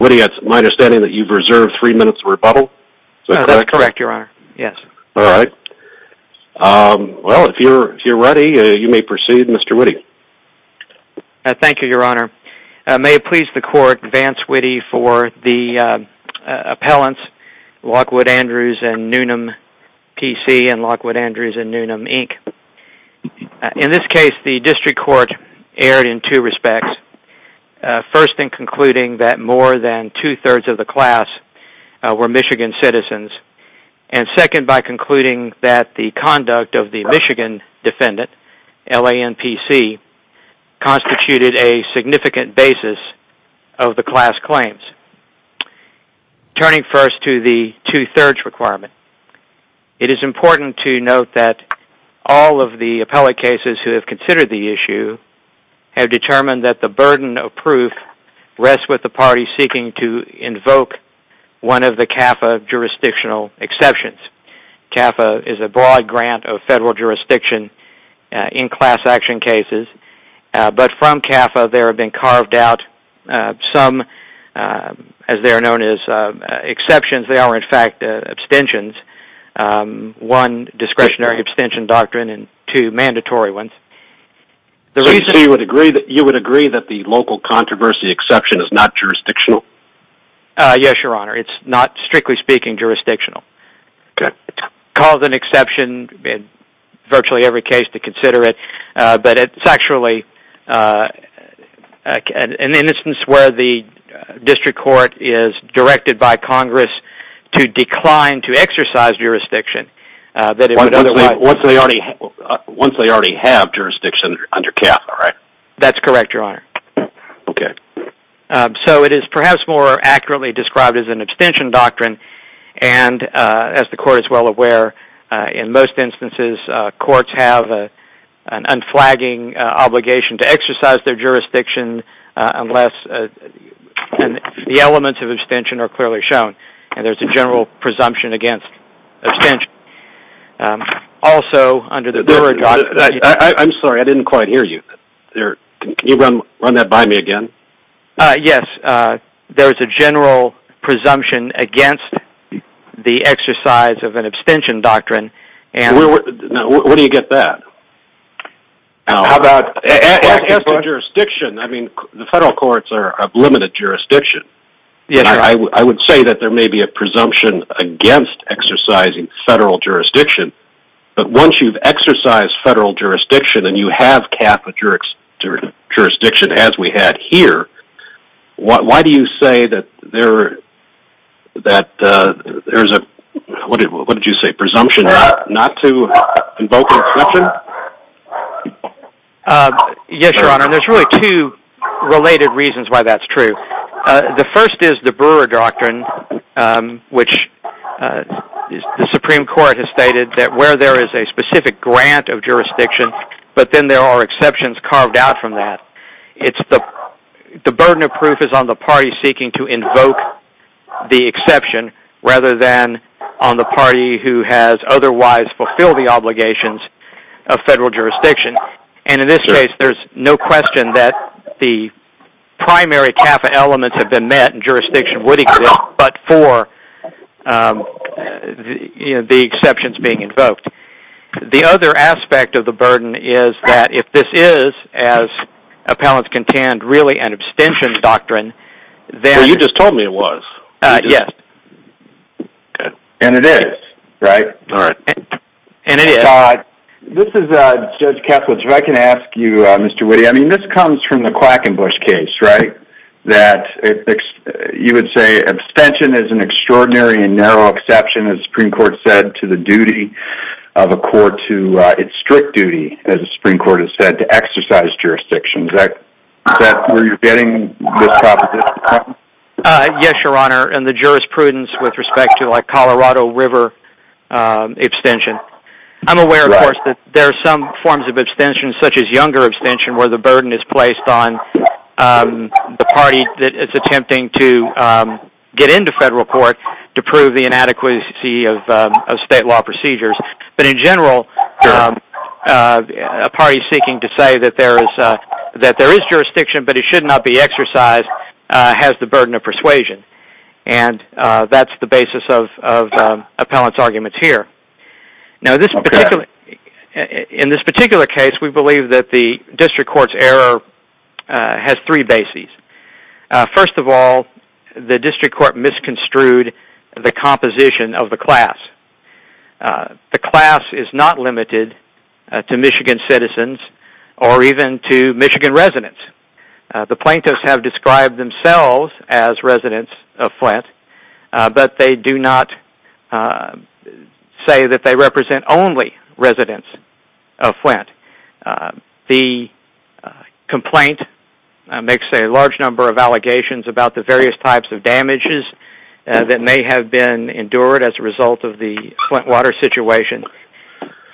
Witte, it's my understanding that you've reserved three minutes to rebuttal? That's correct, Your Honor. Yes. All right. Well, if you're ready, you may proceed, Mr. Witte. Thank you, Your Honor. May it please the Court, advance Witte for the appellants Lockwood Andrews and Newman, PC, and Lockwood Andrews and Newman, Inc. In this case, the District Court erred in two respects. First, in concluding that more than two-thirds of the class were Michigan citizens, and second, by concluding that the conduct of the Michigan defendant, L.A.N.P.C., constituted a significant basis of the class claims. Turning first to the two-thirds requirement, it is important to note that all of the appellate cases who have considered the issue have determined that the burden of proof rests with the party seeking to invoke one of the CAFA jurisdictional exceptions. CAFA is a broad grant of federal jurisdiction in class action cases, but from CAFA there have been carved out some, as they are known as, exceptions. They are, in fact, abstentions. One, discretionary abstention doctrine, and two, mandatory ones. The reason you would agree that the local controversy exception is not jurisdictional? Yes, Your Honor, it's not, strictly speaking, jurisdictional. It's called an exception in virtually every case to consider it, but it's actually an instance where the District Court is directed by Congress to decline to exercise jurisdiction. Once they already have jurisdiction under CAFA, right? That's correct, Your Honor. Okay. So it is perhaps more accurately described as an abstention doctrine, and as the Court is well aware, in most instances, courts have an unflagging obligation to exercise their jurisdiction unless the elements of abstention are clearly shown. And there's a general presumption against abstention. Also, under the... I'm sorry, I didn't quite hear you. Can you run that by me again? Yes. There's a general presumption against the exercise of an abstention doctrine. Where do you get that? How about... As to jurisdiction, I mean, the federal courts are of limited jurisdiction. Yes, Your Honor. I would say that there may be a presumption against exercising federal jurisdiction, but once you've exercised federal jurisdiction and you have CAFA jurisdiction, as we had here, why do you say that there's a... What did you say? Presumption not to invoke an exception? Yes, Your Honor, and there's really two related reasons why that's true. The first is the Brewer Doctrine, which the Supreme Court has stated that where there is a specific grant of jurisdiction, but then there are exceptions carved out from that. The burden of proof is on the party seeking to invoke the exception rather than on the party who has otherwise fulfilled the obligations of federal jurisdiction. And in this case, there's no question that the primary CAFA elements have been met and jurisdiction would exist but for the exceptions being invoked. The other aspect of the burden is that if this is, as appellants contend, really an abstention doctrine, then... Well, you just told me it was. Yes. And it is, right? And it is. This is Judge Kessler. If I can ask you, Mr. Witte, I mean, this comes from the Quackenbush case, right, that you would say abstention is an extraordinary and narrow exception, as the Supreme Court said, to the duty of a court to... It's strict duty, as the Supreme Court has said, to exercise jurisdiction. Is that where you're getting this proposition from? Yes, Your Honor, and the jurisprudence with respect to, like, Colorado River abstention. I'm aware, of course, that there are some forms of abstention, such as younger abstention, where the burden is placed on the party that is attempting to get into federal court to prove the inadequacy of state law procedures. But in general, a party seeking to say that there is jurisdiction but it should not be exercised has the burden of persuasion. And that's the basis of appellant's arguments here. Now, in this particular case, we believe that the district court's error has three bases. First of all, the district court misconstrued the composition of the class. The class is not limited to Michigan citizens or even to Michigan residents. The plaintiffs have described themselves as residents of Flint, but they do not say that they represent only residents of Flint. The complaint makes a large number of allegations about the various types of damages that may have been endured as a result of the Flint water situation.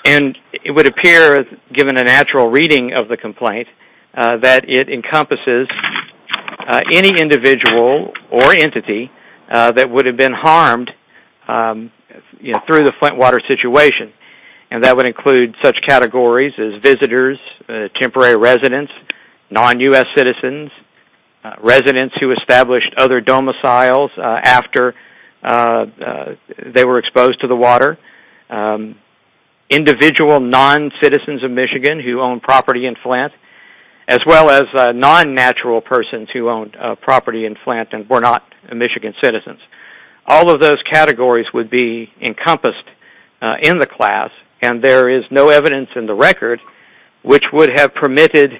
And it would appear, given a natural reading of the complaint, that it encompasses any individual or entity that would have been harmed through the Flint water situation. And that would include such categories as visitors, temporary residents, non-U.S. citizens, residents who established other domiciles after they were exposed to the water, individual non-citizens of Michigan who own property in Flint, as well as non-natural persons who own property in Flint and were not Michigan citizens. All of those categories would be encompassed in the class, and there is no evidence in the record which would have permitted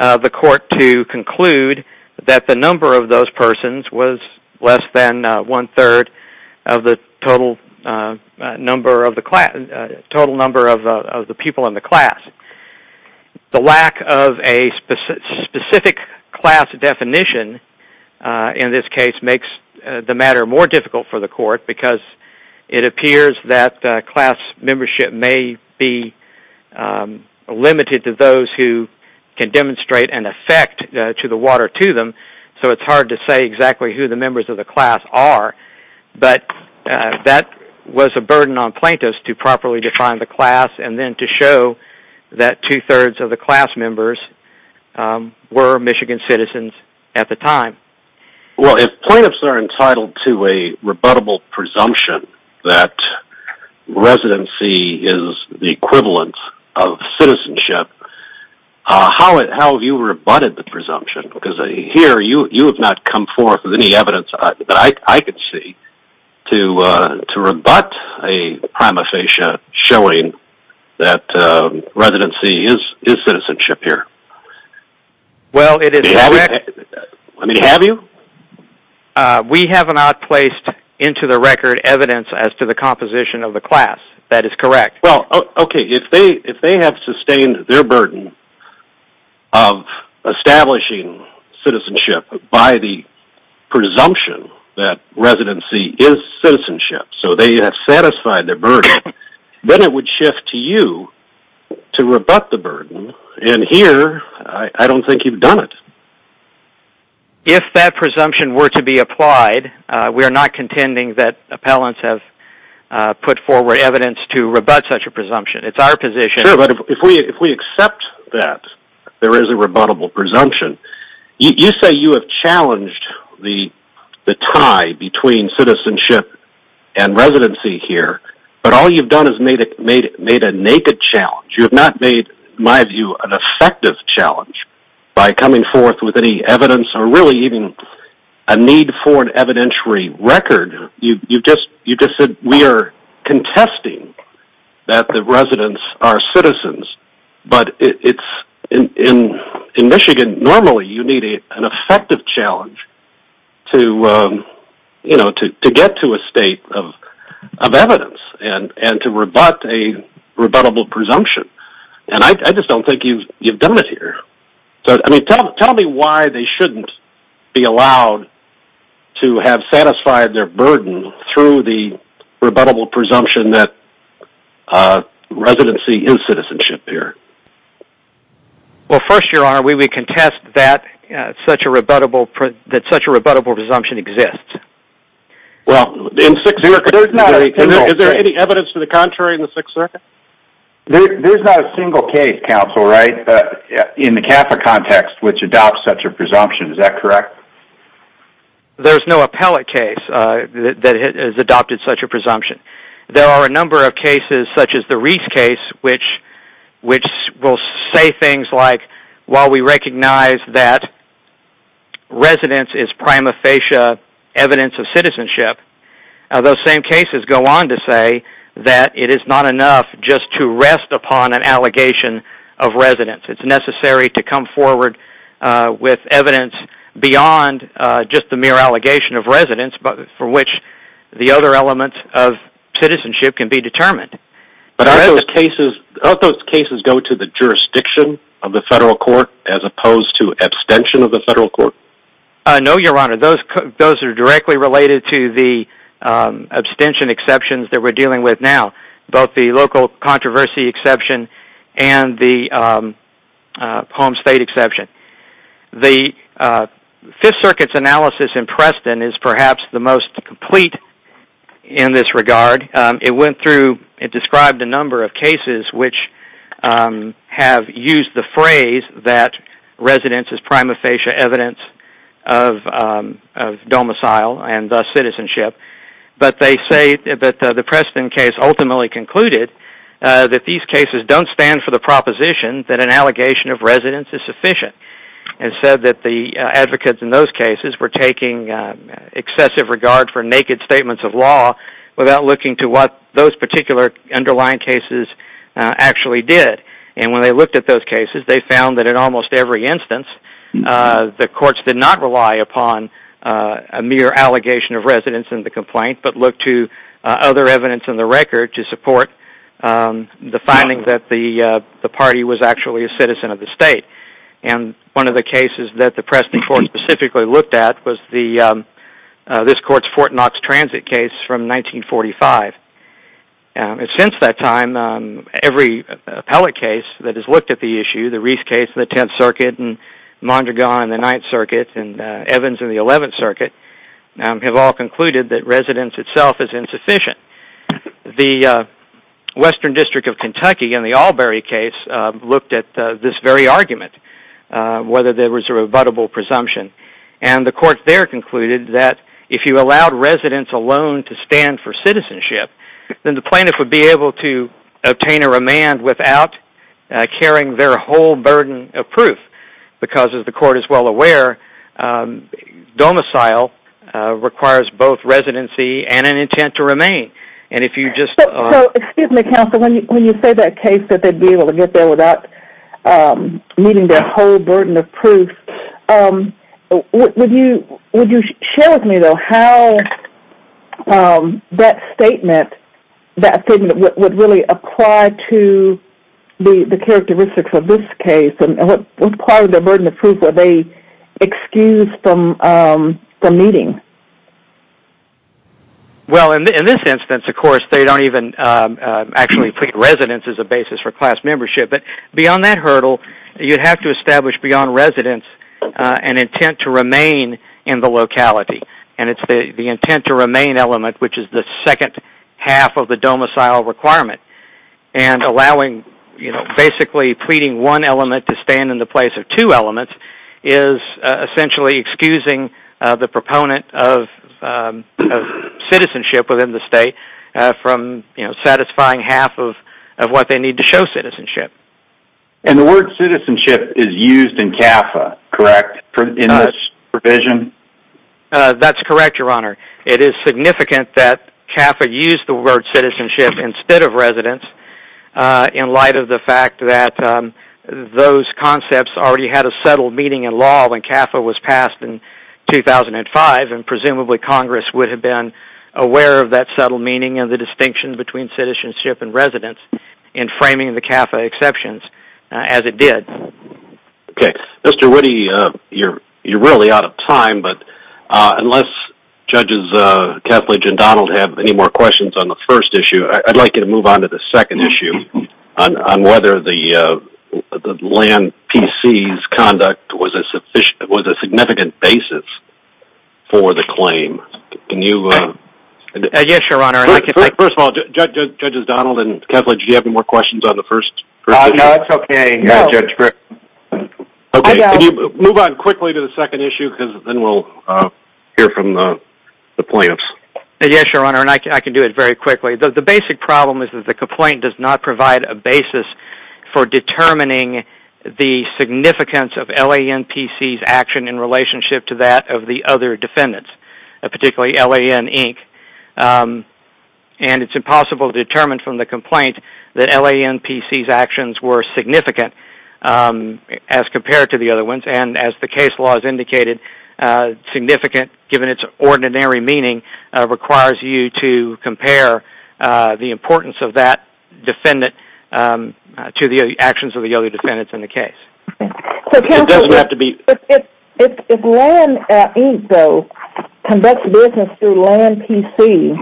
the court to conclude that the number of those persons was less than one-third of the total number of the people in the class. The lack of a specific class definition in this case makes the matter more difficult for the court because it appears that class membership may be limited to those who can demonstrate an effect to the water to them, so it's hard to say exactly who the members of the class are. But that was a burden on plaintiffs to properly define the class and then to show that two-thirds of the class members were Michigan citizens at the time. Well, if plaintiffs are entitled to a rebuttable presumption that residency is the equivalent of citizenship, how have you rebutted the presumption? Because here you have not come forth with any evidence that I could see to rebut a prima facie showing that residency is citizenship here. Well, it is not. I mean, have you? We have not placed into the record evidence as to the composition of the class. That is correct. Well, okay. If they have sustained their burden of establishing citizenship by the presumption that residency is citizenship, so they have satisfied their burden, then it would shift to you to rebut the burden, and here I don't think you've done it. If that presumption were to be applied, we are not contending that appellants have put forward evidence to rebut such a presumption. It's our position. Sure, but if we accept that there is a rebuttable presumption, you say you have challenged the tie between citizenship and residency here, but all you've done is made a naked challenge. You have not made, in my view, an effective challenge by coming forth with any evidence or really even a need for an evidentiary record. You've just said we are contesting that the residents are citizens. But in Michigan, normally you need an effective challenge to get to a state of evidence and to rebut a rebuttable presumption, and I just don't think you've done it here. Tell me why they shouldn't be allowed to have satisfied their burden through the rebuttable presumption that residency is citizenship here. Well, first, Your Honor, we contest that such a rebuttable presumption exists. Is there any evidence to the contrary in the Sixth Circuit? There's not a single case, counsel, right, in the CAFA context which adopts such a presumption. Is that correct? There's no appellate case that has adopted such a presumption. There are a number of cases, such as the Reese case, which will say things like, while we recognize that residence is prima facie evidence of citizenship, those same cases go on to say that it is not enough just to rest upon an allegation of residence. It's necessary to come forward with evidence beyond just the mere allegation of residence from which the other elements of citizenship can be determined. But aren't those cases go to the jurisdiction of the federal court as opposed to abstention of the federal court? No, Your Honor, those are directly related to the abstention exceptions that we're dealing with now, both the local controversy exception and the home state exception. The Fifth Circuit's analysis in Preston is perhaps the most complete in this regard. It described a number of cases which have used the phrase that residence is prima facie evidence of domicile and thus citizenship, but they say that the Preston case ultimately concluded that these cases don't stand for the proposition that an allegation of residence is sufficient. It said that the advocates in those cases were taking excessive regard for naked statements of law without looking to what those particular underlying cases actually did. And when they looked at those cases, they found that in almost every instance, the courts did not rely upon a mere allegation of residence in the complaint but looked to other evidence in the record to support the finding that the party was actually a citizen of the state. And one of the cases that the Preston court specifically looked at was this court's Fort Knox transit case from 1945. Since that time, every appellate case that has looked at the issue, the Reese case in the Tenth Circuit and Mondragon in the Ninth Circuit and Evans in the Eleventh Circuit, have all concluded that residence itself is insufficient. The Western District of Kentucky in the Albury case looked at this very argument, whether there was a rebuttable presumption, and the court there concluded that if you allowed residence alone to stand for citizenship, then the plaintiff would be able to obtain a remand without carrying their whole burden of proof because, as the court is well aware, domicile requires both residency and an intent to remain. So, excuse me, counsel, when you say that case that they'd be able to get there without needing their whole burden of proof, would you share with me, though, how that statement would really apply to the characteristics of this case and what part of their burden of proof would they excuse from needing? Well, in this instance, of course, they don't even actually plead residence as a basis for class membership, but beyond that hurdle, you'd have to establish beyond residence an intent to remain in the locality, and it's the intent to remain element, which is the second half of the domicile requirement, and basically pleading one element to stand in the place of two elements is essentially excusing the proponent of citizenship within the state from satisfying half of what they need to show citizenship. And the word citizenship is used in CAFA, correct, in this provision? That's correct, Your Honor. It is significant that CAFA used the word citizenship instead of residence in light of the fact that those concepts already had a subtle meaning in law when CAFA was passed in 2005, and presumably Congress would have been aware of that subtle meaning and the distinction between citizenship and residence in framing the CAFA exceptions as it did. Okay. Mr. Woody, you're really out of time, but unless Judges Kethledge and Donald have any more questions on the first issue, I'd like you to move on to the second issue on whether the land PC's conduct was a significant basis for the claim. Yes, Your Honor. First of all, Judges Donald and Kethledge, do you have any more questions on the first issue? No, it's okay, Judge Griffith. Okay, can you move on quickly to the second issue, because then we'll hear from the plaintiffs. Yes, Your Honor, and I can do it very quickly. The basic problem is that the complaint does not provide a basis for determining the significance of L.A.N.P.C.'s action in relationship to that of the other defendants, particularly L.A.N. Inc., and it's impossible to determine from the complaint that L.A.N.P.C.'s actions were significant as compared to the other ones, and as the case law has indicated, significant, given its ordinary meaning, requires you to compare the importance of that defendant to the actions of the other defendants in the case. So counsel, if L.A.N. Inc., though, conducts business through L.A.N.P.C.,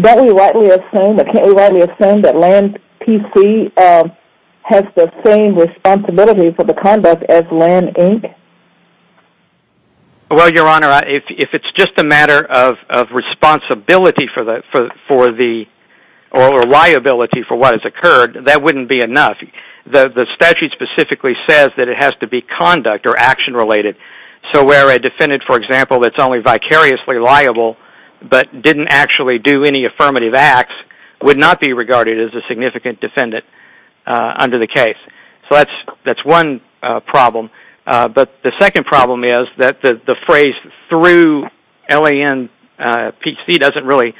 don't we rightly assume, can't we rightly assume that L.A.N.P.C. has the same responsibility for the conduct as L.A.N. Inc.? Well, Your Honor, if it's just a matter of responsibility for the, or liability for what has occurred, that wouldn't be enough. The statute specifically says that it has to be conduct- or action-related. So where a defendant, for example, that's only vicariously liable but didn't actually do any affirmative acts would not be regarded as a significant defendant under the case. So that's one problem, but the second problem is that the phrase through L.A.N.P.C. doesn't really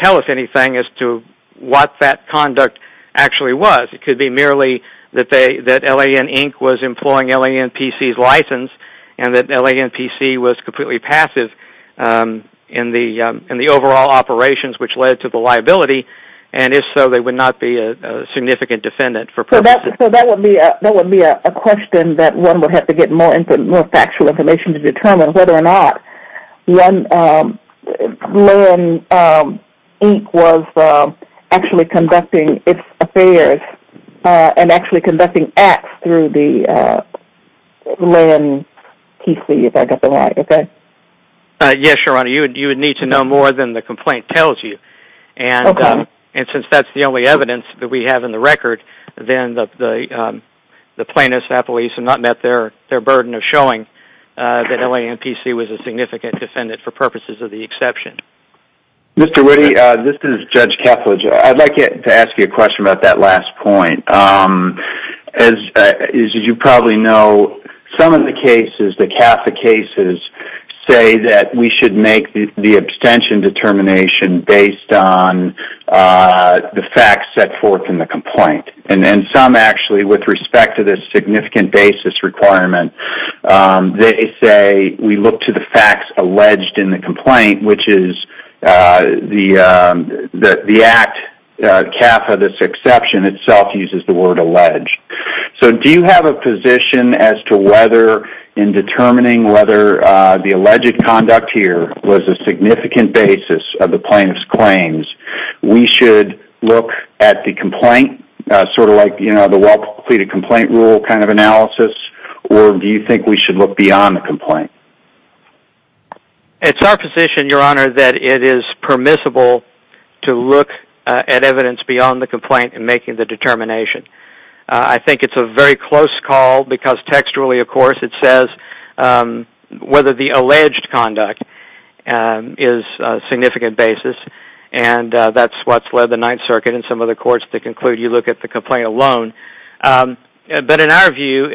tell us anything as to what that conduct actually was. It could be merely that L.A.N. Inc. was employing L.A.N.P.C.'s license and that L.A.N.P.C. was completely passive in the overall operations which led to the liability and if so, they would not be a significant defendant for purposes. So that would be a question that one would have to get more factual information to determine whether or not L.A.N. Inc. was actually conducting its affairs and actually conducting acts through the L.A.N.P.C. if I got that right, okay? Yes, Your Honor, you would need to know more than the complaint tells you. Okay. And since that's the only evidence that we have in the record, then the plaintiffs at least have not met their burden of showing that L.A.N.P.C. was a significant defendant for purposes of the exception. Mr. Woody, this is Judge Kethledge. I'd like to ask you a question about that last point. As you probably know, some of the cases, the Catholic cases, say that we should make the abstention determination based on the facts set forth in the complaint and some actually, with respect to this significant basis requirement, they say we look to the facts alleged in the complaint, which is the act kappa this exception itself uses the word alleged. So do you have a position as to whether in determining whether the alleged conduct here was a significant basis of the plaintiff's claims, we should look at the complaint, sort of like the well-completed complaint rule kind of analysis, or do you think we should look beyond the complaint? It's our position, Your Honor, that it is permissible to look at evidence beyond the complaint in making the determination. I think it's a very close call because textually, of course, it says whether the alleged conduct is a significant basis, and that's what's led the Ninth Circuit and some of the courts to conclude you look at the complaint alone. But in our view,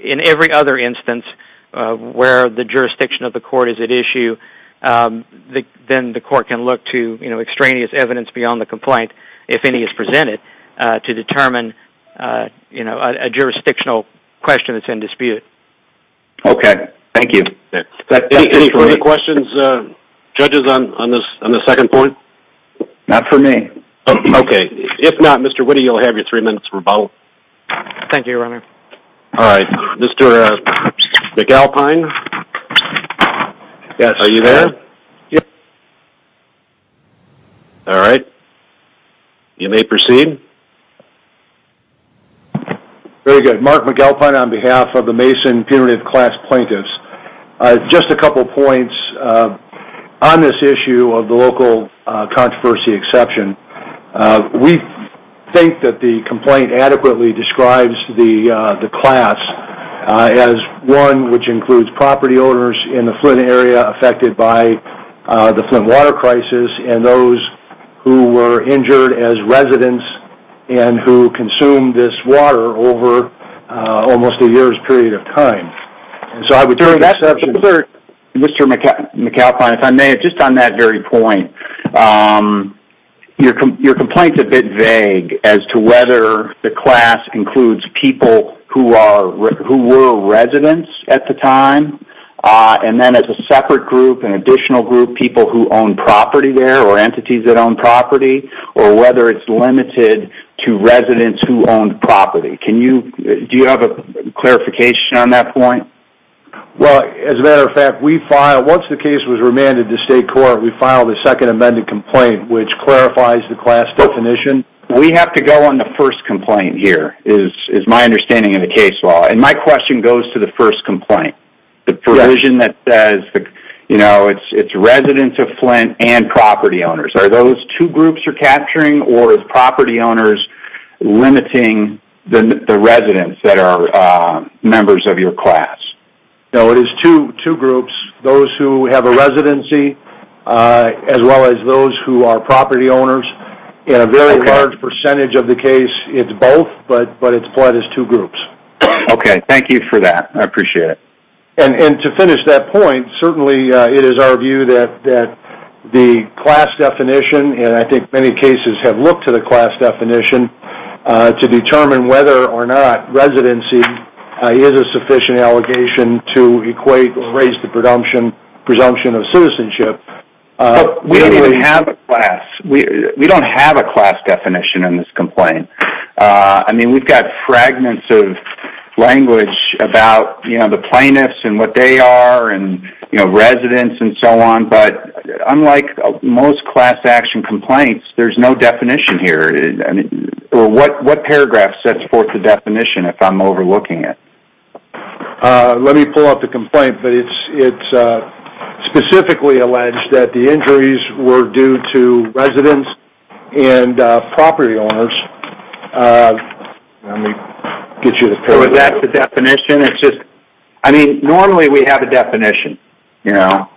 in every other instance where the jurisdiction of the court is at issue, then the court can look to extraneous evidence beyond the complaint, if any is presented, to determine a jurisdictional question that's in dispute. Okay. Thank you. Any further questions, judges, on the second point? Not for me. Okay. If not, Mr. Witte, you'll have your three minutes for both. Thank you, Your Honor. All right. Mr. McAlpine? Yes. Are you there? Yes. All right. You may proceed. Very good. Mark McAlpine on behalf of the Mason Punitive Class Plaintiffs. Just a couple points on this issue of the local controversy exception. We think that the complaint adequately describes the class as one which includes property owners in the Flint area affected by the Flint water crisis and those who were injured as residents and who consumed this water over almost a year's period of time. So I would turn to Mr. McAlpine, if I may, just on that very point. Your complaint's a bit vague as to whether the class includes people who were residents at the time. And then as a separate group, an additional group, people who own property there or entities that own property, or whether it's limited to residents who owned property. Do you have a clarification on that point? Well, as a matter of fact, once the case was remanded to state court, we filed a second amended complaint which clarifies the class definition. We have to go on the first complaint here is my understanding of the case law. And my question goes to the first complaint. The provision that says it's residents of Flint and property owners. Are those two groups you're capturing or is property owners limiting the residents that are members of your class? No, it is two groups. Those who have a residency as well as those who are property owners. In a very large percentage of the case, it's both, but it's plotted as two groups. Okay, thank you for that. I appreciate it. And to finish that point, certainly it is our view that the class definition, and I think many cases have looked to the class definition to determine whether or not residency is a sufficient allegation to equate or raise the presumption of citizenship. We don't even have a class. We don't have a class definition in this complaint. I mean, we've got fragments of language about the plaintiffs and what they are and residents and so on. But unlike most class action complaints, there's no definition here. What paragraph sets forth the definition if I'm overlooking it? Let me pull up the complaint, but it's specifically alleged that the injuries were due to residents and property owners. So is that the definition? I mean, normally we have a definition, you know,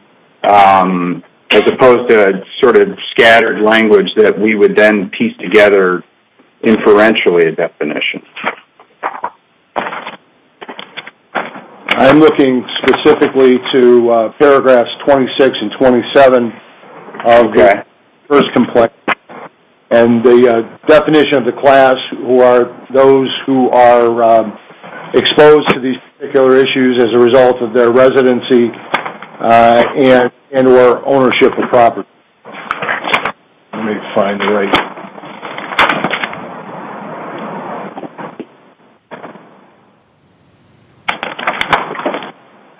as opposed to sort of scattered language that we would then piece together inferentially a definition. I'm looking specifically to paragraphs 26 and 27 of the first complaint and the definition of the class who are those who are exposed to these particular issues as a result of their residency and or ownership of property. Let me find the right...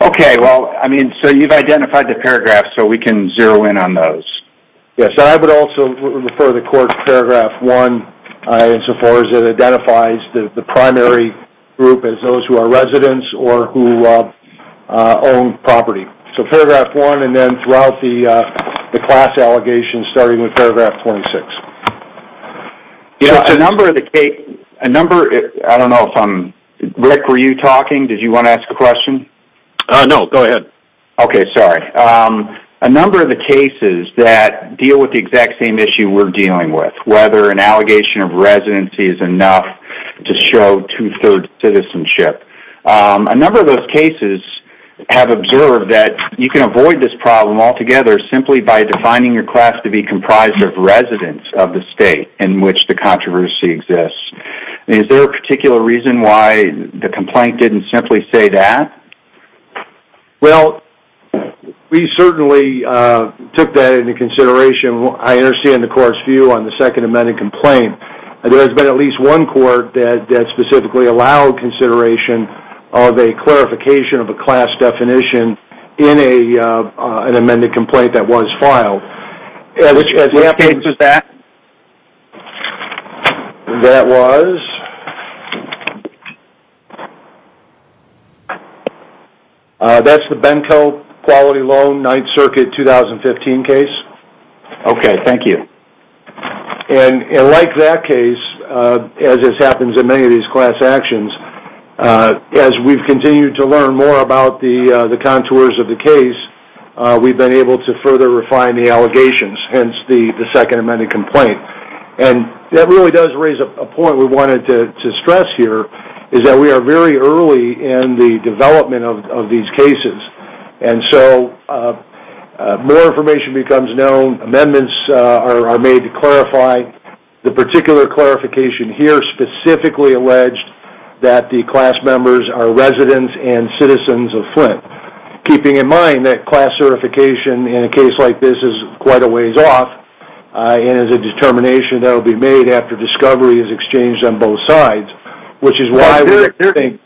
Okay, well, I mean, so you've identified the paragraph so we can zero in on those. Yes, I would also refer the court to paragraph 1 insofar as it identifies the primary group as those who are residents or who own property. So paragraph 1 and then throughout the class allegations starting with paragraph 26. There's a number of the case... I don't know if I'm... Rick, were you talking? Did you want to ask a question? No, go ahead. Okay, sorry. A number of the cases that deal with the exact same issue we're dealing with, whether an allegation of residency is enough to show two-thirds citizenship, a number of those cases have observed that you can avoid this problem altogether simply by defining your class to be comprised of residents of the state in which the controversy exists. Is there a particular reason why the complaint didn't simply say that? Well, we certainly took that into consideration. I understand the court's view on the second amended complaint. There has been at least one court that specifically allowed consideration of a clarification of a class definition in an amended complaint that was filed. Which case is that? That was... That's the Benko Quality Loan 9th Circuit 2015 case. Okay, thank you. And like that case, as this happens in many of these class actions, as we've continued to learn more about the contours of the case, we've been able to further refine the allegations, hence the second amended complaint. And that really does raise a point we wanted to stress here, is that we are very early in the development of these cases. And so more information becomes known, amendments are made to clarify. The particular clarification here specifically alleged that the class members are residents and citizens of Flint, keeping in mind that class certification in a case like this is quite a ways off and is a determination that will be made after discovery is exchanged on both sides, which is why we think...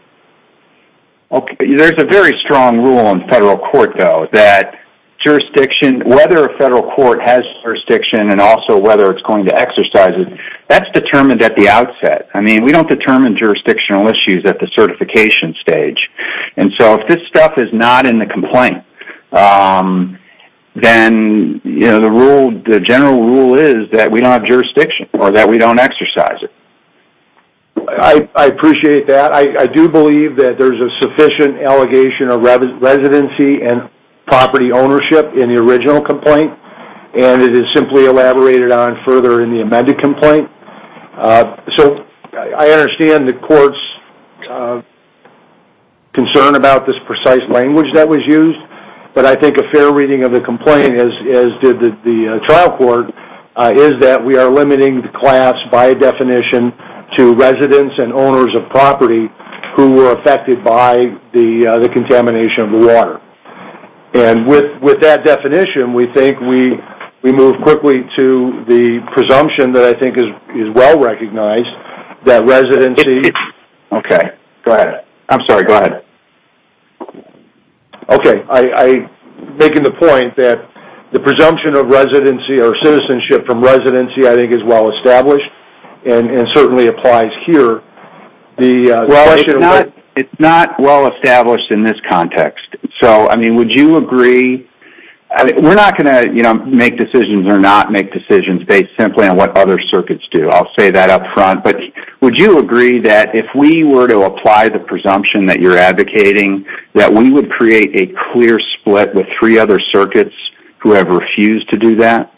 Okay, there's a very strong rule in federal court, though, that jurisdiction, whether a federal court has jurisdiction and also whether it's going to exercise it, that's determined at the outset. I mean, we don't determine jurisdictional issues at the certification stage. And so if this stuff is not in the complaint, then the general rule is that we don't have jurisdiction or that we don't exercise it. I appreciate that. I do believe that there's a sufficient allegation of residency and property ownership in the original complaint, and it is simply elaborated on further in the amended complaint. So I understand the court's concern about this precise language that was used, but I think a fair reading of the complaint, as did the trial court, is that we are limiting the class by definition to residents and owners of property And with that definition, we think we move quickly to the presumption that I think is well recognized that residency... Okay, go ahead. I'm sorry, go ahead. Okay, I'm making the point that the presumption of residency or citizenship from residency I think is well established and certainly applies here. Well, it's not well established in this context. So, I mean, would you agree... We're not going to make decisions or not make decisions based simply on what other circuits do. I'll say that up front. But would you agree that if we were to apply the presumption that you're advocating, that we would create a clear split with three other circuits who have refused to do that?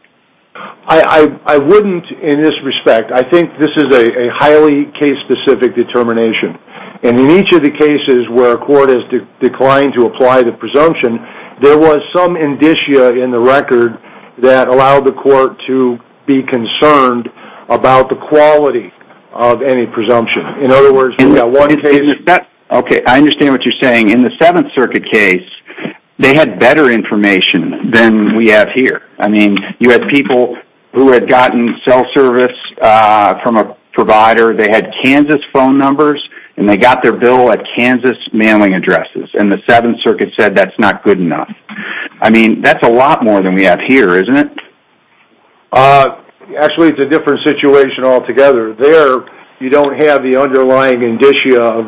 I wouldn't in this respect. I think this is a highly case-specific determination. And in each of the cases where a court has declined to apply the presumption, there was some indicia in the record that allowed the court to be concerned about the quality of any presumption. In other words, in that one case... Okay, I understand what you're saying. In the Seventh Circuit case, they had better information than we have here. I mean, you had people who had gotten cell service from a provider. They had Kansas phone numbers, and they got their bill at Kansas mailing addresses. And the Seventh Circuit said that's not good enough. I mean, that's a lot more than we have here, isn't it? Actually, it's a different situation altogether. There you don't have the underlying indicia of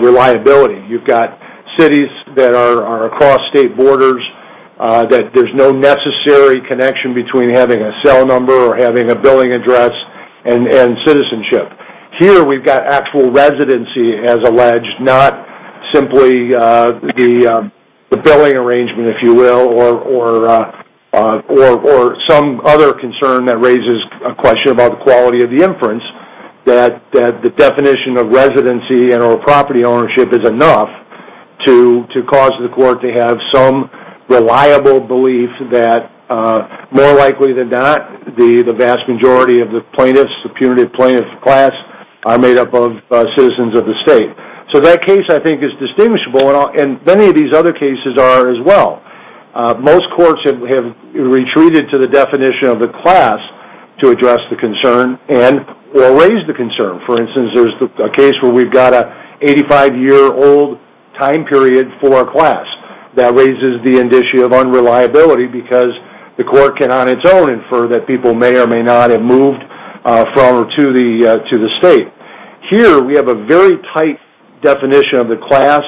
reliability. You've got cities that are across state borders that there's no necessary connection between having a cell number or having a billing address and citizenship. Here we've got actual residency as alleged, not simply the billing arrangement, if you will, or some other concern that raises a question about the quality of the inference that the definition of residency and or property ownership is enough to cause the court to have some reliable belief that, more likely than not, the vast majority of the plaintiffs, the punitive plaintiff class, are made up of citizens of the state. So that case, I think, is distinguishable, and many of these other cases are as well. Most courts have retreated to the definition of the class to address the concern and or raise the concern. For instance, there's a case where we've got an 85-year-old time period for a class. That raises the indicia of unreliability because the court can, on its own, infer that people may or may not have moved from or to the state. Here we have a very tight definition of the class,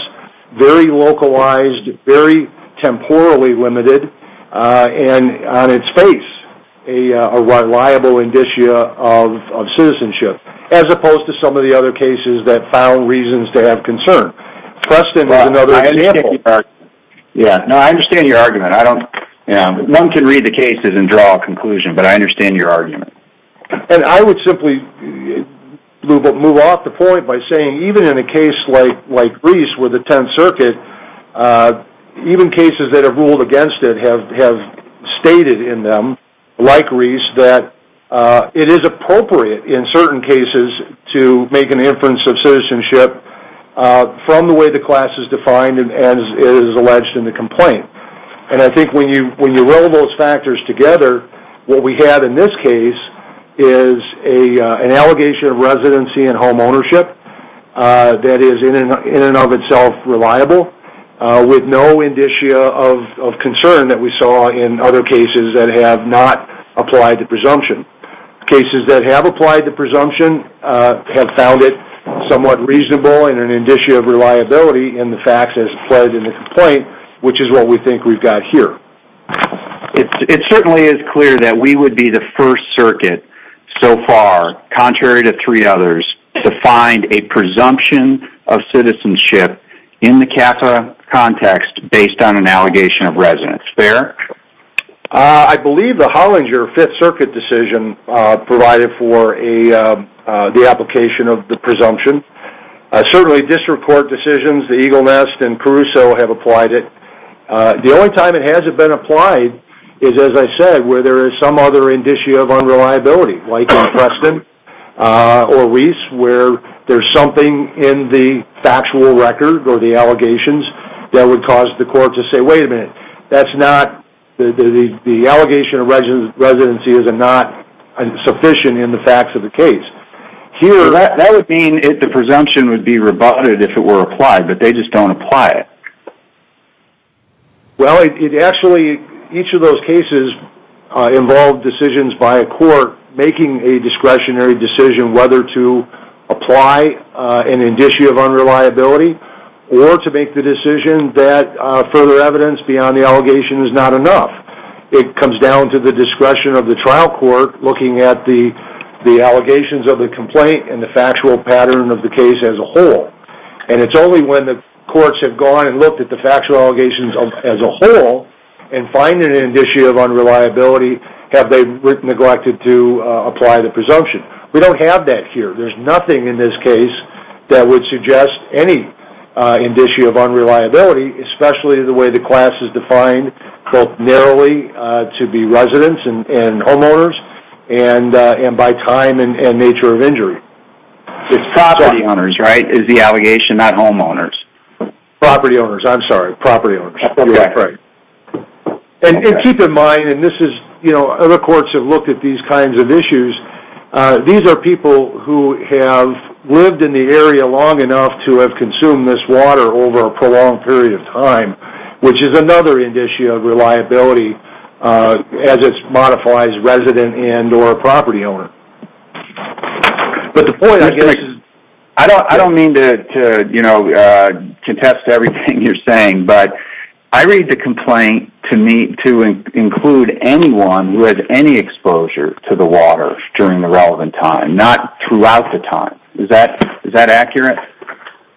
very localized, very temporally limited, and on its face a reliable indicia of citizenship. As opposed to some of the other cases that found reasons to have concern. Preston is another example. I understand your argument. One can read the cases and draw a conclusion, but I understand your argument. And I would simply move off the point by saying, even in a case like Reese with the Tenth Circuit, even cases that have ruled against it have stated in them, like Reese, that it is appropriate in certain cases to make an inference of citizenship from the way the class is defined as is alleged in the complaint. And I think when you roll those factors together, what we have in this case is an allegation of residency and home ownership that is in and of itself reliable, with no indicia of concern that we saw in other cases that have not applied the presumption. Cases that have applied the presumption have found it somewhat reasonable and an indicia of reliability in the facts as applied in the complaint, which is what we think we've got here. It certainly is clear that we would be the first circuit so far, contrary to three others, to find a presumption of citizenship in the CAFA context based on an allegation of residence. I believe the Hollinger Fifth Circuit decision provided for the application of the presumption. Certainly district court decisions, the Eagle Nest and Caruso have applied it. The only time it hasn't been applied is, as I said, where there is some other indicia of unreliability, like in Preston or Reese, where there's something in the factual record or the allegations that would cause the court to say, wait a minute, the allegation of residency is not sufficient in the facts of the case. That would mean the presumption would be rebutted if it were applied, but they just don't apply it. Well, actually, each of those cases involved decisions by a court making a discretionary decision whether to apply an indicia of unreliability or to make the decision that further evidence beyond the allegation is not enough. It comes down to the discretion of the trial court looking at the allegations of the complaint and the factual pattern of the case as a whole. And it's only when the courts have gone and looked at the factual allegations as a whole and find an indicia of unreliability have they neglected to apply the presumption. We don't have that here. There's nothing in this case that would suggest any indicia of unreliability, especially the way the class is defined both narrowly to be residents and homeowners and by time and nature of injury. It's property owners, right? It's the allegation, not homeowners. Property owners, I'm sorry. Property owners. Okay. And keep in mind, and this is, you know, other courts have looked at these kinds of issues. These are people who have lived in the area long enough to have consumed this water over a prolonged period of time, which is another indicia of reliability as it modifies resident and or property owner. But the point I guess is I don't mean to, you know, contest everything you're saying, but I read the complaint to include anyone who had any exposure to the water during the relevant time, not throughout the time. Is that accurate?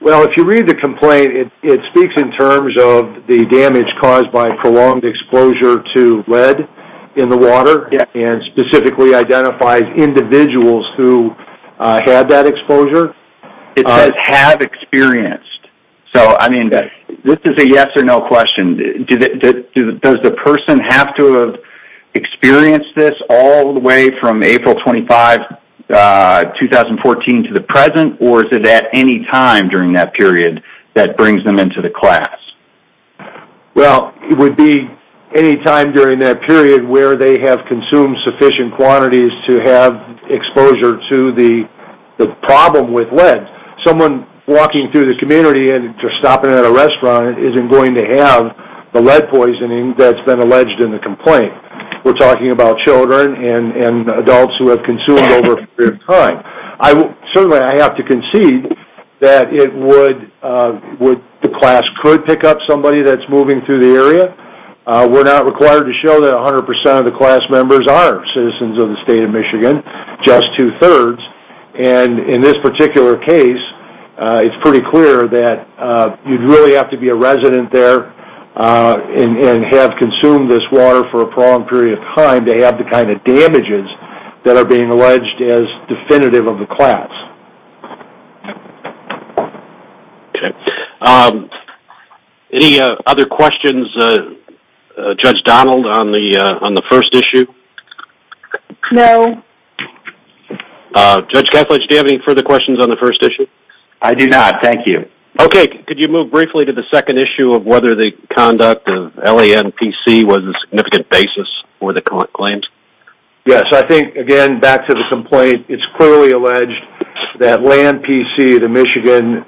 Well, if you read the complaint, it speaks in terms of the damage caused by prolonged exposure to lead in the water and specifically identifies individuals who had that exposure. It says have experienced. So, I mean, this is a yes or no question. Does the person have to have experienced this all the way from April 25, 2014, to the present, or is it at any time during that period that brings them into the class? Well, it would be any time during that period where they have consumed sufficient quantities to have exposure to the problem with lead. Someone walking through the community and stopping at a restaurant isn't going to have the lead poisoning that's been alleged in the complaint. We're talking about children and adults who have consumed over a period of time. Certainly, I have to concede that the class could pick up somebody that's moving through the area. We're not required to show that 100% of the class members are citizens of the state of Michigan, just two-thirds. And in this particular case, it's pretty clear that you'd really have to be a resident there and have consumed this water for a prolonged period of time to have the kind of damages that are being alleged as definitive of the class. Any other questions, Judge Donald, on the first issue? No. Judge Kessler, do you have any further questions on the first issue? I do not, thank you. Okay, could you move briefly to the second issue of whether the conduct of LANPC was a significant basis for the claims? Yes, I think, again, back to the complaint, it's clearly alleged that LANPC, the Michigan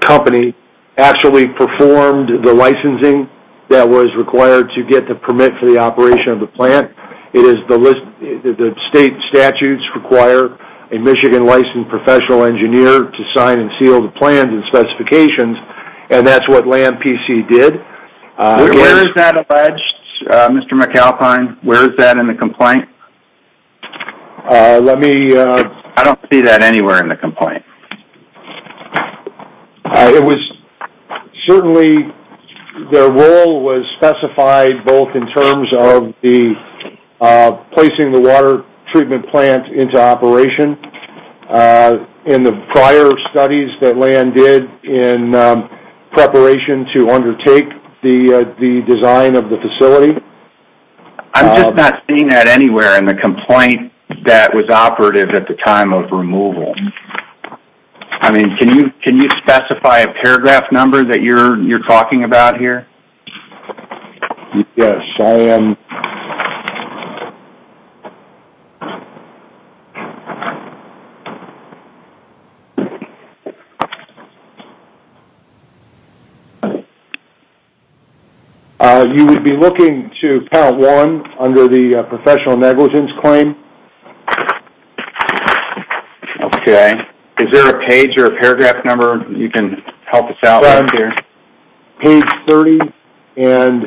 company, actually performed the licensing that was required to get the permit for the operation of the plant. The state statutes require a Michigan-licensed professional engineer to sign and seal the plans and specifications, and that's what LANPC did. Where is that alleged, Mr. McAlpine? Where is that in the complaint? It was certainly, their role was specified both in terms of the placing the water treatment plant into operation and the prior studies that LAN did in preparation to undertake the design of the facility. I'm just not seeing that anywhere in the complaint that was operative at the time of removal. I mean, can you specify a paragraph number that you're talking about here? Yes, I am. You would be looking to part one under the professional negligence claim. Okay. Is there a page or a paragraph number you can help us out with here? Page 30, and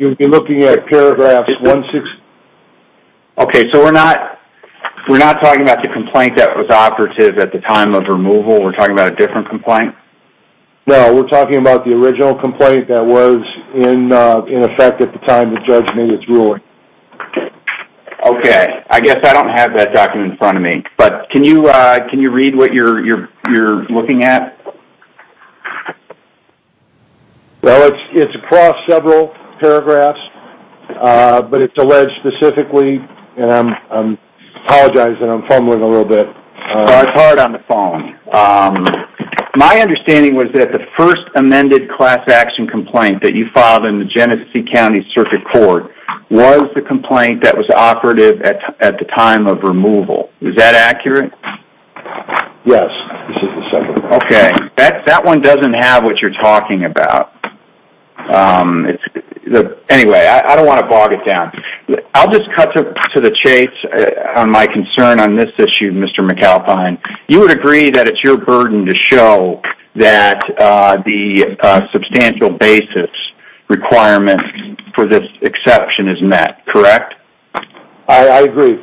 you'd be looking at paragraph 160. Okay, so we're not talking about the complaint that was operative at the time of removal. We're talking about a different complaint? No, we're talking about the original complaint that was in effect at the time the judge made its ruling. Okay, I guess I don't have that document in front of me, but can you read what you're looking at? Well, it's across several paragraphs, but it's alleged specifically, and I apologize that I'm fumbling a little bit. It's hard on the phone. My understanding was that the first amended class action complaint that you filed in the Genesee County Circuit Court was the complaint that was operative at the time of removal. Is that accurate? Yes, this is the second one. Okay, that one doesn't have what you're talking about. Anyway, I don't want to bog it down. I'll just cut to the chase on my concern on this issue, Mr. McAlpine. You would agree that it's your burden to show that the substantial basis requirement for this exception is met, correct? I agree.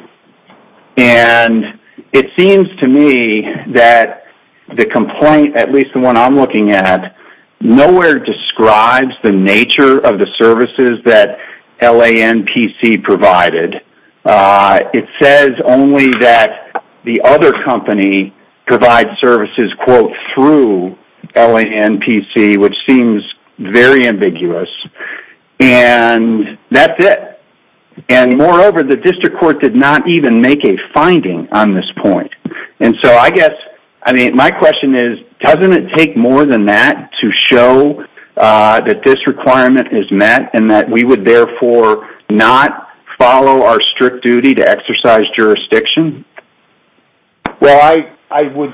And it seems to me that the complaint, at least the one I'm looking at, nowhere describes the nature of the services that LANPC provided. It says only that the other company provides services, quote, through LANPC, which seems very ambiguous. And that's it. And moreover, the district court did not even make a finding on this point. And so I guess, I mean, my question is, doesn't it take more than that to show that this requirement is met and that we would therefore not follow our strict duty to exercise jurisdiction? Well, I would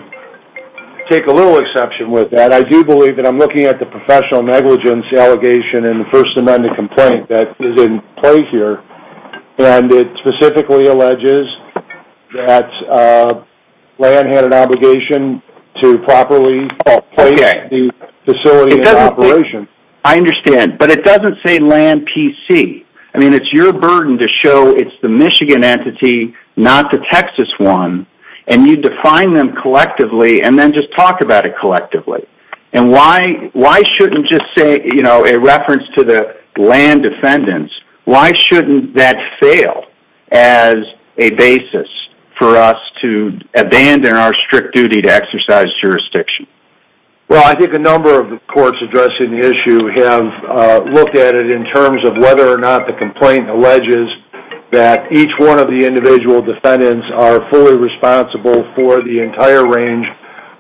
take a little exception with that. I do believe that I'm looking at the professional negligence allegation in the First Amendment complaint that is in play here. And it specifically alleges that LAN had an obligation to properly place the facility in operation. I understand. But it doesn't say LANPC. I mean, it's your burden to show it's the Michigan entity, not the Texas one, and you define them collectively and then just talk about it collectively. And why shouldn't just say, you know, a reference to the LAN defendants, why shouldn't that fail as a basis for us to abandon our strict duty to exercise jurisdiction? Well, I think a number of the courts addressing the issue have looked at it in terms of whether or not the complaint alleges that each one of the individual defendants are fully responsible for the entire range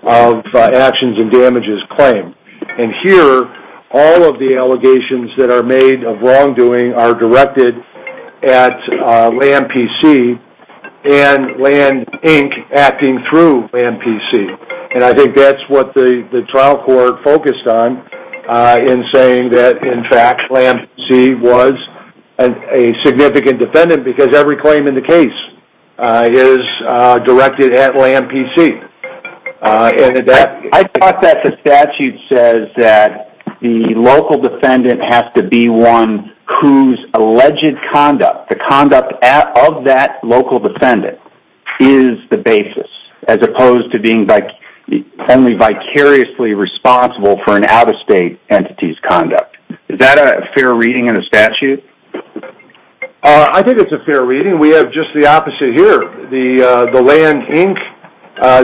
of actions and damages claimed. And here, all of the allegations that are made of wrongdoing are directed at LANPC and LAN, Inc. acting through LANPC. And I think that's what the trial court focused on in saying that, in fact, LANPC was a significant defendant because every claim in the case is directed at LANPC. I thought that the statute says that the local defendant has to be one whose alleged conduct, the conduct of that local defendant is the basis, as opposed to being only vicariously responsible for an out-of-state entity's conduct. Is that a fair reading in the statute? I think it's a fair reading. We have just the opposite here. The LAN, Inc.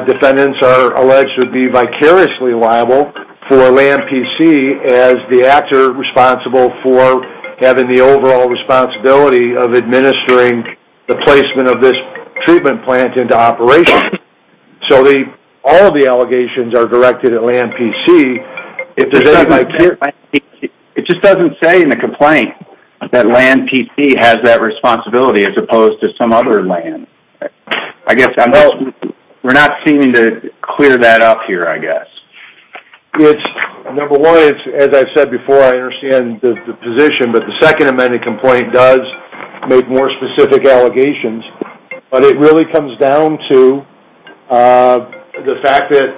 defendants are alleged to be vicariously liable for LANPC as the actor responsible for having the overall responsibility of administering the placement of this treatment plant into operation. So all of the allegations are directed at LANPC. It just doesn't say in the complaint that LANPC has that responsibility as opposed to some other LAN. We're not seeming to clear that up here, I guess. Number one, as I said before, I understand the position, but the second amended complaint does make more specific allegations. But it really comes down to the fact that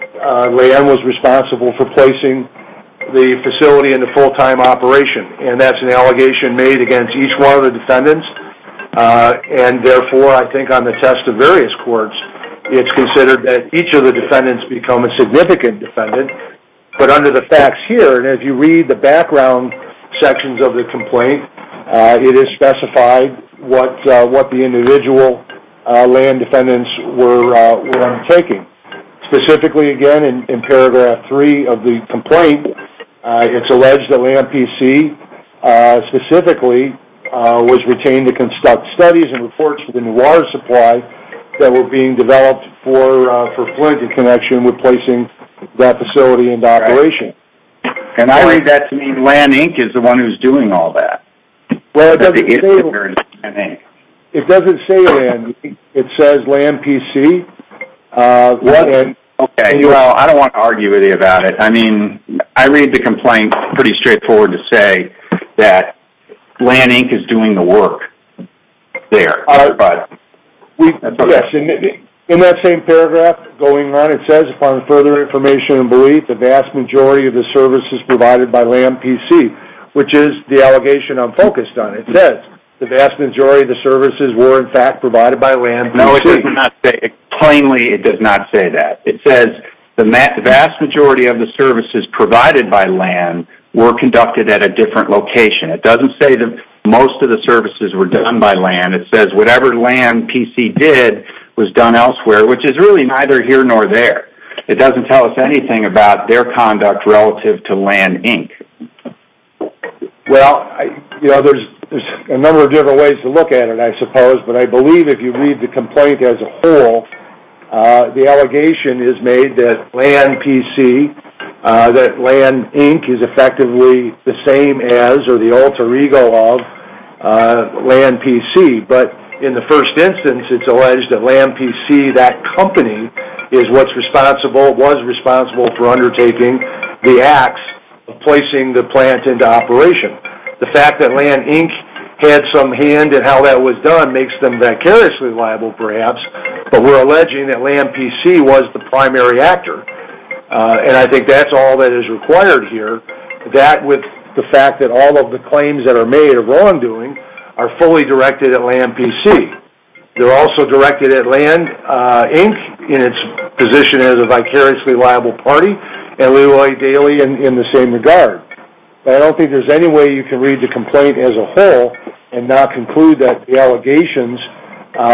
LAN was responsible for placing the facility into full-time operation. And that's an allegation made against each one of the defendants. And therefore, I think on the test of various courts, it's considered that each of the defendants become a significant defendant. But under the facts here, and if you read the background sections of the complaint, it is specified what the individual LAN defendants were undertaking. Specifically, again, in paragraph three of the complaint, it's alleged that LANPC specifically was retained to conduct studies and reports for the new water supply that were being developed for fluid connection replacing that facility into operation. And I read that to mean LAN, Inc. is the one who's doing all that. Well, it doesn't say LAN, Inc. It says LANPC. Okay, well, I don't want to argue with you about it. I mean, I read the complaint pretty straightforward to say that LAN, Inc. is doing the work there. Yes, in that same paragraph going on, it says, upon further information and belief, the vast majority of the services provided by LANPC, which is the allegation I'm focused on. It says the vast majority of the services were, in fact, provided by LANPC. No, it does not say that. Plainly, it does not say that. It says the vast majority of the services provided by LAN were conducted at a different location. It doesn't say that most of the services were done by LAN. It says whatever LANPC did was done elsewhere, which is really neither here nor there. It doesn't tell us anything about their conduct relative to LAN, Inc. Well, there's a number of different ways to look at it, I suppose. But I believe if you read the complaint as a whole, the allegation is made that LAN, Inc. is effectively the same as or the alter ego of LANPC. But in the first instance, it's alleged that LANPC, that company, is what's responsible, was responsible for undertaking the acts of placing the plant into operation. The fact that LAN, Inc. had some hand in how that was done makes them vicariously liable, perhaps. But we're alleging that LANPC was the primary actor. And I think that's all that is required here. That, with the fact that all of the claims that are made are wrongdoing, are fully directed at LANPC. They're also directed at LAN, Inc., in its position as a vicariously liable party, and LeRoy Daly in the same regard. But I don't think there's any way you can read the complaint as a whole and not conclude that the allegations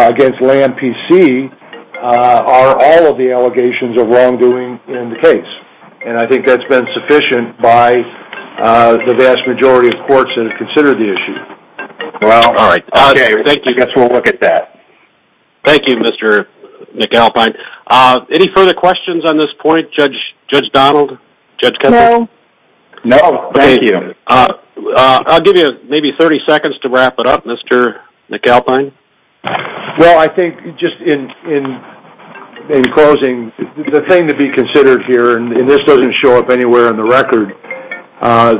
against LANPC are all of the allegations of wrongdoing in the case. And I think that's been sufficient by the vast majority of courts that have considered the issue. Well, okay, I guess we'll look at that. Thank you, Mr. McAlpine. Any further questions on this point, Judge Donald? No. No, thank you. I'll give you maybe 30 seconds to wrap it up, Mr. McAlpine. Well, I think just in closing, the thing to be considered here, and this doesn't show up anywhere on the record,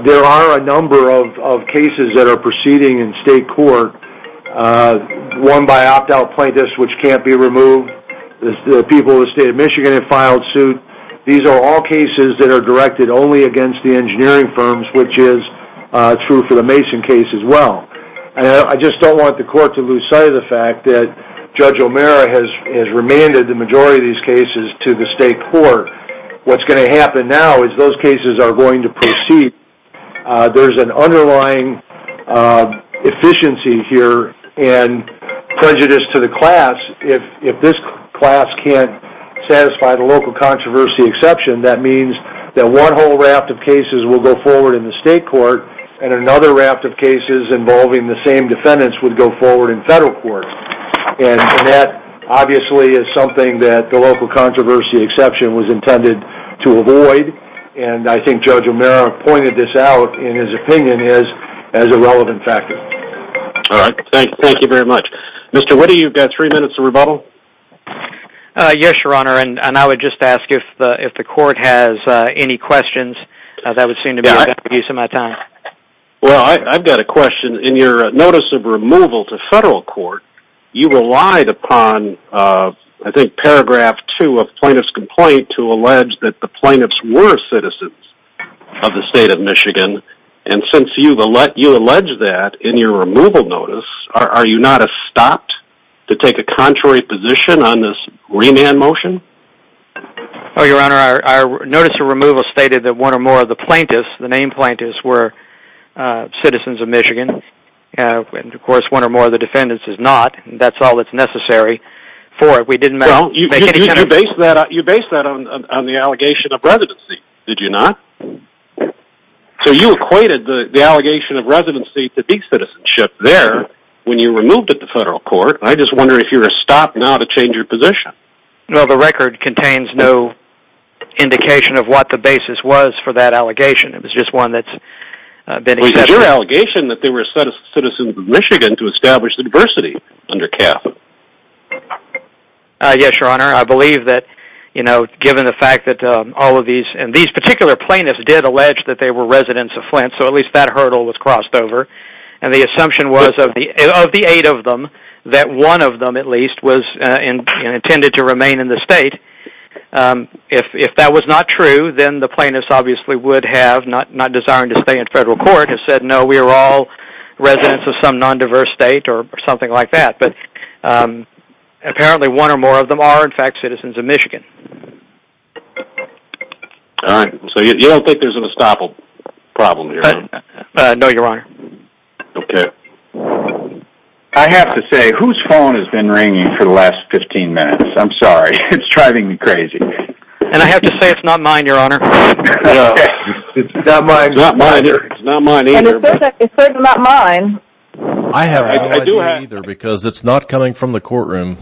there are a number of cases that are proceeding in state court, one by opt-out plaintiffs which can't be removed. The people of the state of Michigan have filed suit. These are all cases that are directed only against the engineering firms, which is true for the Mason case as well. I just don't want the court to lose sight of the fact that Judge O'Meara has remanded the majority of these cases to the state court. What's going to happen now is those cases are going to proceed. There's an underlying efficiency here and prejudice to the class. If this class can't satisfy the local controversy exception, that means that one whole raft of cases will go forward in the state court and another raft of cases involving the same defendants would go forward in federal court. That obviously is something that the local controversy exception was intended to avoid. I think Judge O'Meara pointed this out in his opinion as a relevant factor. Thank you very much. Mr. Whitty, you've got three minutes to rebuttal. Yes, Your Honor, and I would just ask if the court has any questions. That would seem to be a good use of my time. Well, I've got a question. In your notice of removal to federal court, you relied upon, I think, paragraph two of plaintiff's complaint to allege that the plaintiffs were citizens of the state of Michigan. Since you allege that in your removal notice, are you not stopped to take a contrary position on this remand motion? Your Honor, our notice of removal stated that one or more of the plaintiffs, the named plaintiffs, were citizens of Michigan. Of course, one or more of the defendants is not. That's all that's necessary for it. You based that on the allegation of residency, did you not? So you equated the allegation of residency to decitizenship there when you removed it to federal court. I just wonder if you're stopped now to change your position. No, the record contains no indication of what the basis was for that allegation. It was just one that's been accepted. Was it your allegation that they were citizens of Michigan to establish the diversity under CAF? Yes, Your Honor. I believe that given the fact that all of these, and these particular plaintiffs did allege that they were residents of Flint, so at least that hurdle was crossed over. And the assumption was of the eight of them that one of them, at least, was intended to remain in the state. If that was not true, then the plaintiffs obviously would have, not desiring to stay in federal court, have said, no, we are all residents of some non-diverse state or something like that. But apparently one or more of them are, in fact, citizens of Michigan. All right. So you don't think there's an estoppel problem here? No, Your Honor. Okay. I have to say, whose phone has been ringing for the last 15 minutes? I'm sorry. It's driving me crazy. And I have to say, it's not mine, Your Honor. No. It's not mine. It's not mine either. It's certainly not mine. I have no idea either, because it's not coming from the courtroom.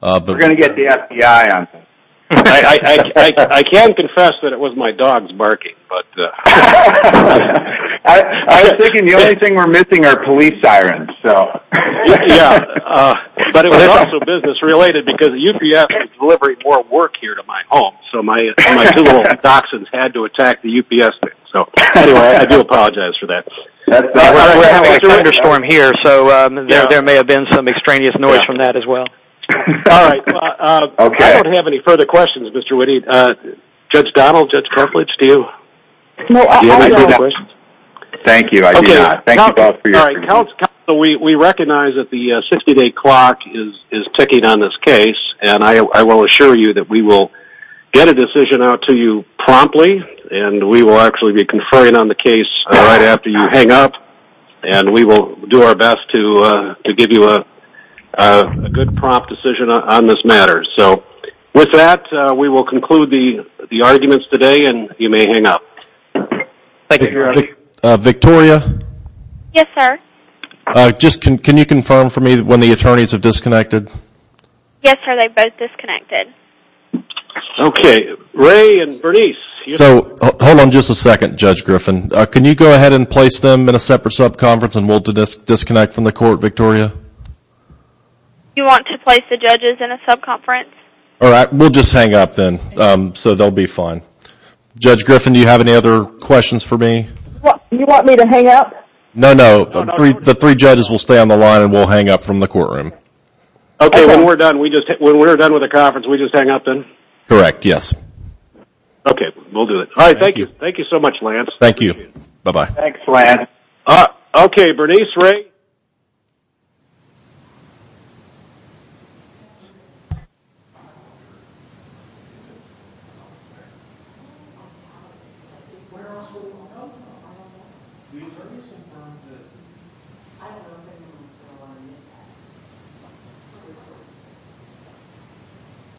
We're going to get the FBI on this. I can confess that it was my dogs barking. I was thinking the only thing we're missing are police sirens. But it was also business related, because UPS was delivering more work here to my home, so my two little dachshunds had to attack the UPS thing. So anyway, I do apologize for that. We're having a thunderstorm here, so there may have been some extraneous noise from that as well. All right. I don't have any further questions, Mr. Witte. Judge Donald, Judge Karplitz, do you have any questions? Thank you. We recognize that the 60-day clock is ticking on this case, and I will assure you that we will get a decision out to you promptly, and we will actually be conferring on the case right after you hang up, and we will do our best to give you a good, prompt decision on this matter. So with that, we will conclude the arguments today, and you may hang up. Victoria? Yes, sir? Can you confirm for me when the attorneys have disconnected? Yes, sir. They both disconnected. Okay. Ray and Bernice? So hold on just a second, Judge Griffin. Can you go ahead and place them in a separate sub-conference, and we'll disconnect from the court, Victoria? You want to place the judges in a sub-conference? All right. We'll just hang up then, so they'll be fine. Judge Griffin, do you have any other questions for me? You want me to hang up? No, no. The three judges will stay on the line, and we'll hang up from the courtroom. Okay. When we're done with the conference, we just hang up then? Correct. Yes. Okay. We'll do it. All right. Thank you. Thank you so much, Lance. Thank you. Bye-bye. Thanks, Lance. Okay. Bernice, Ray? Bye-bye.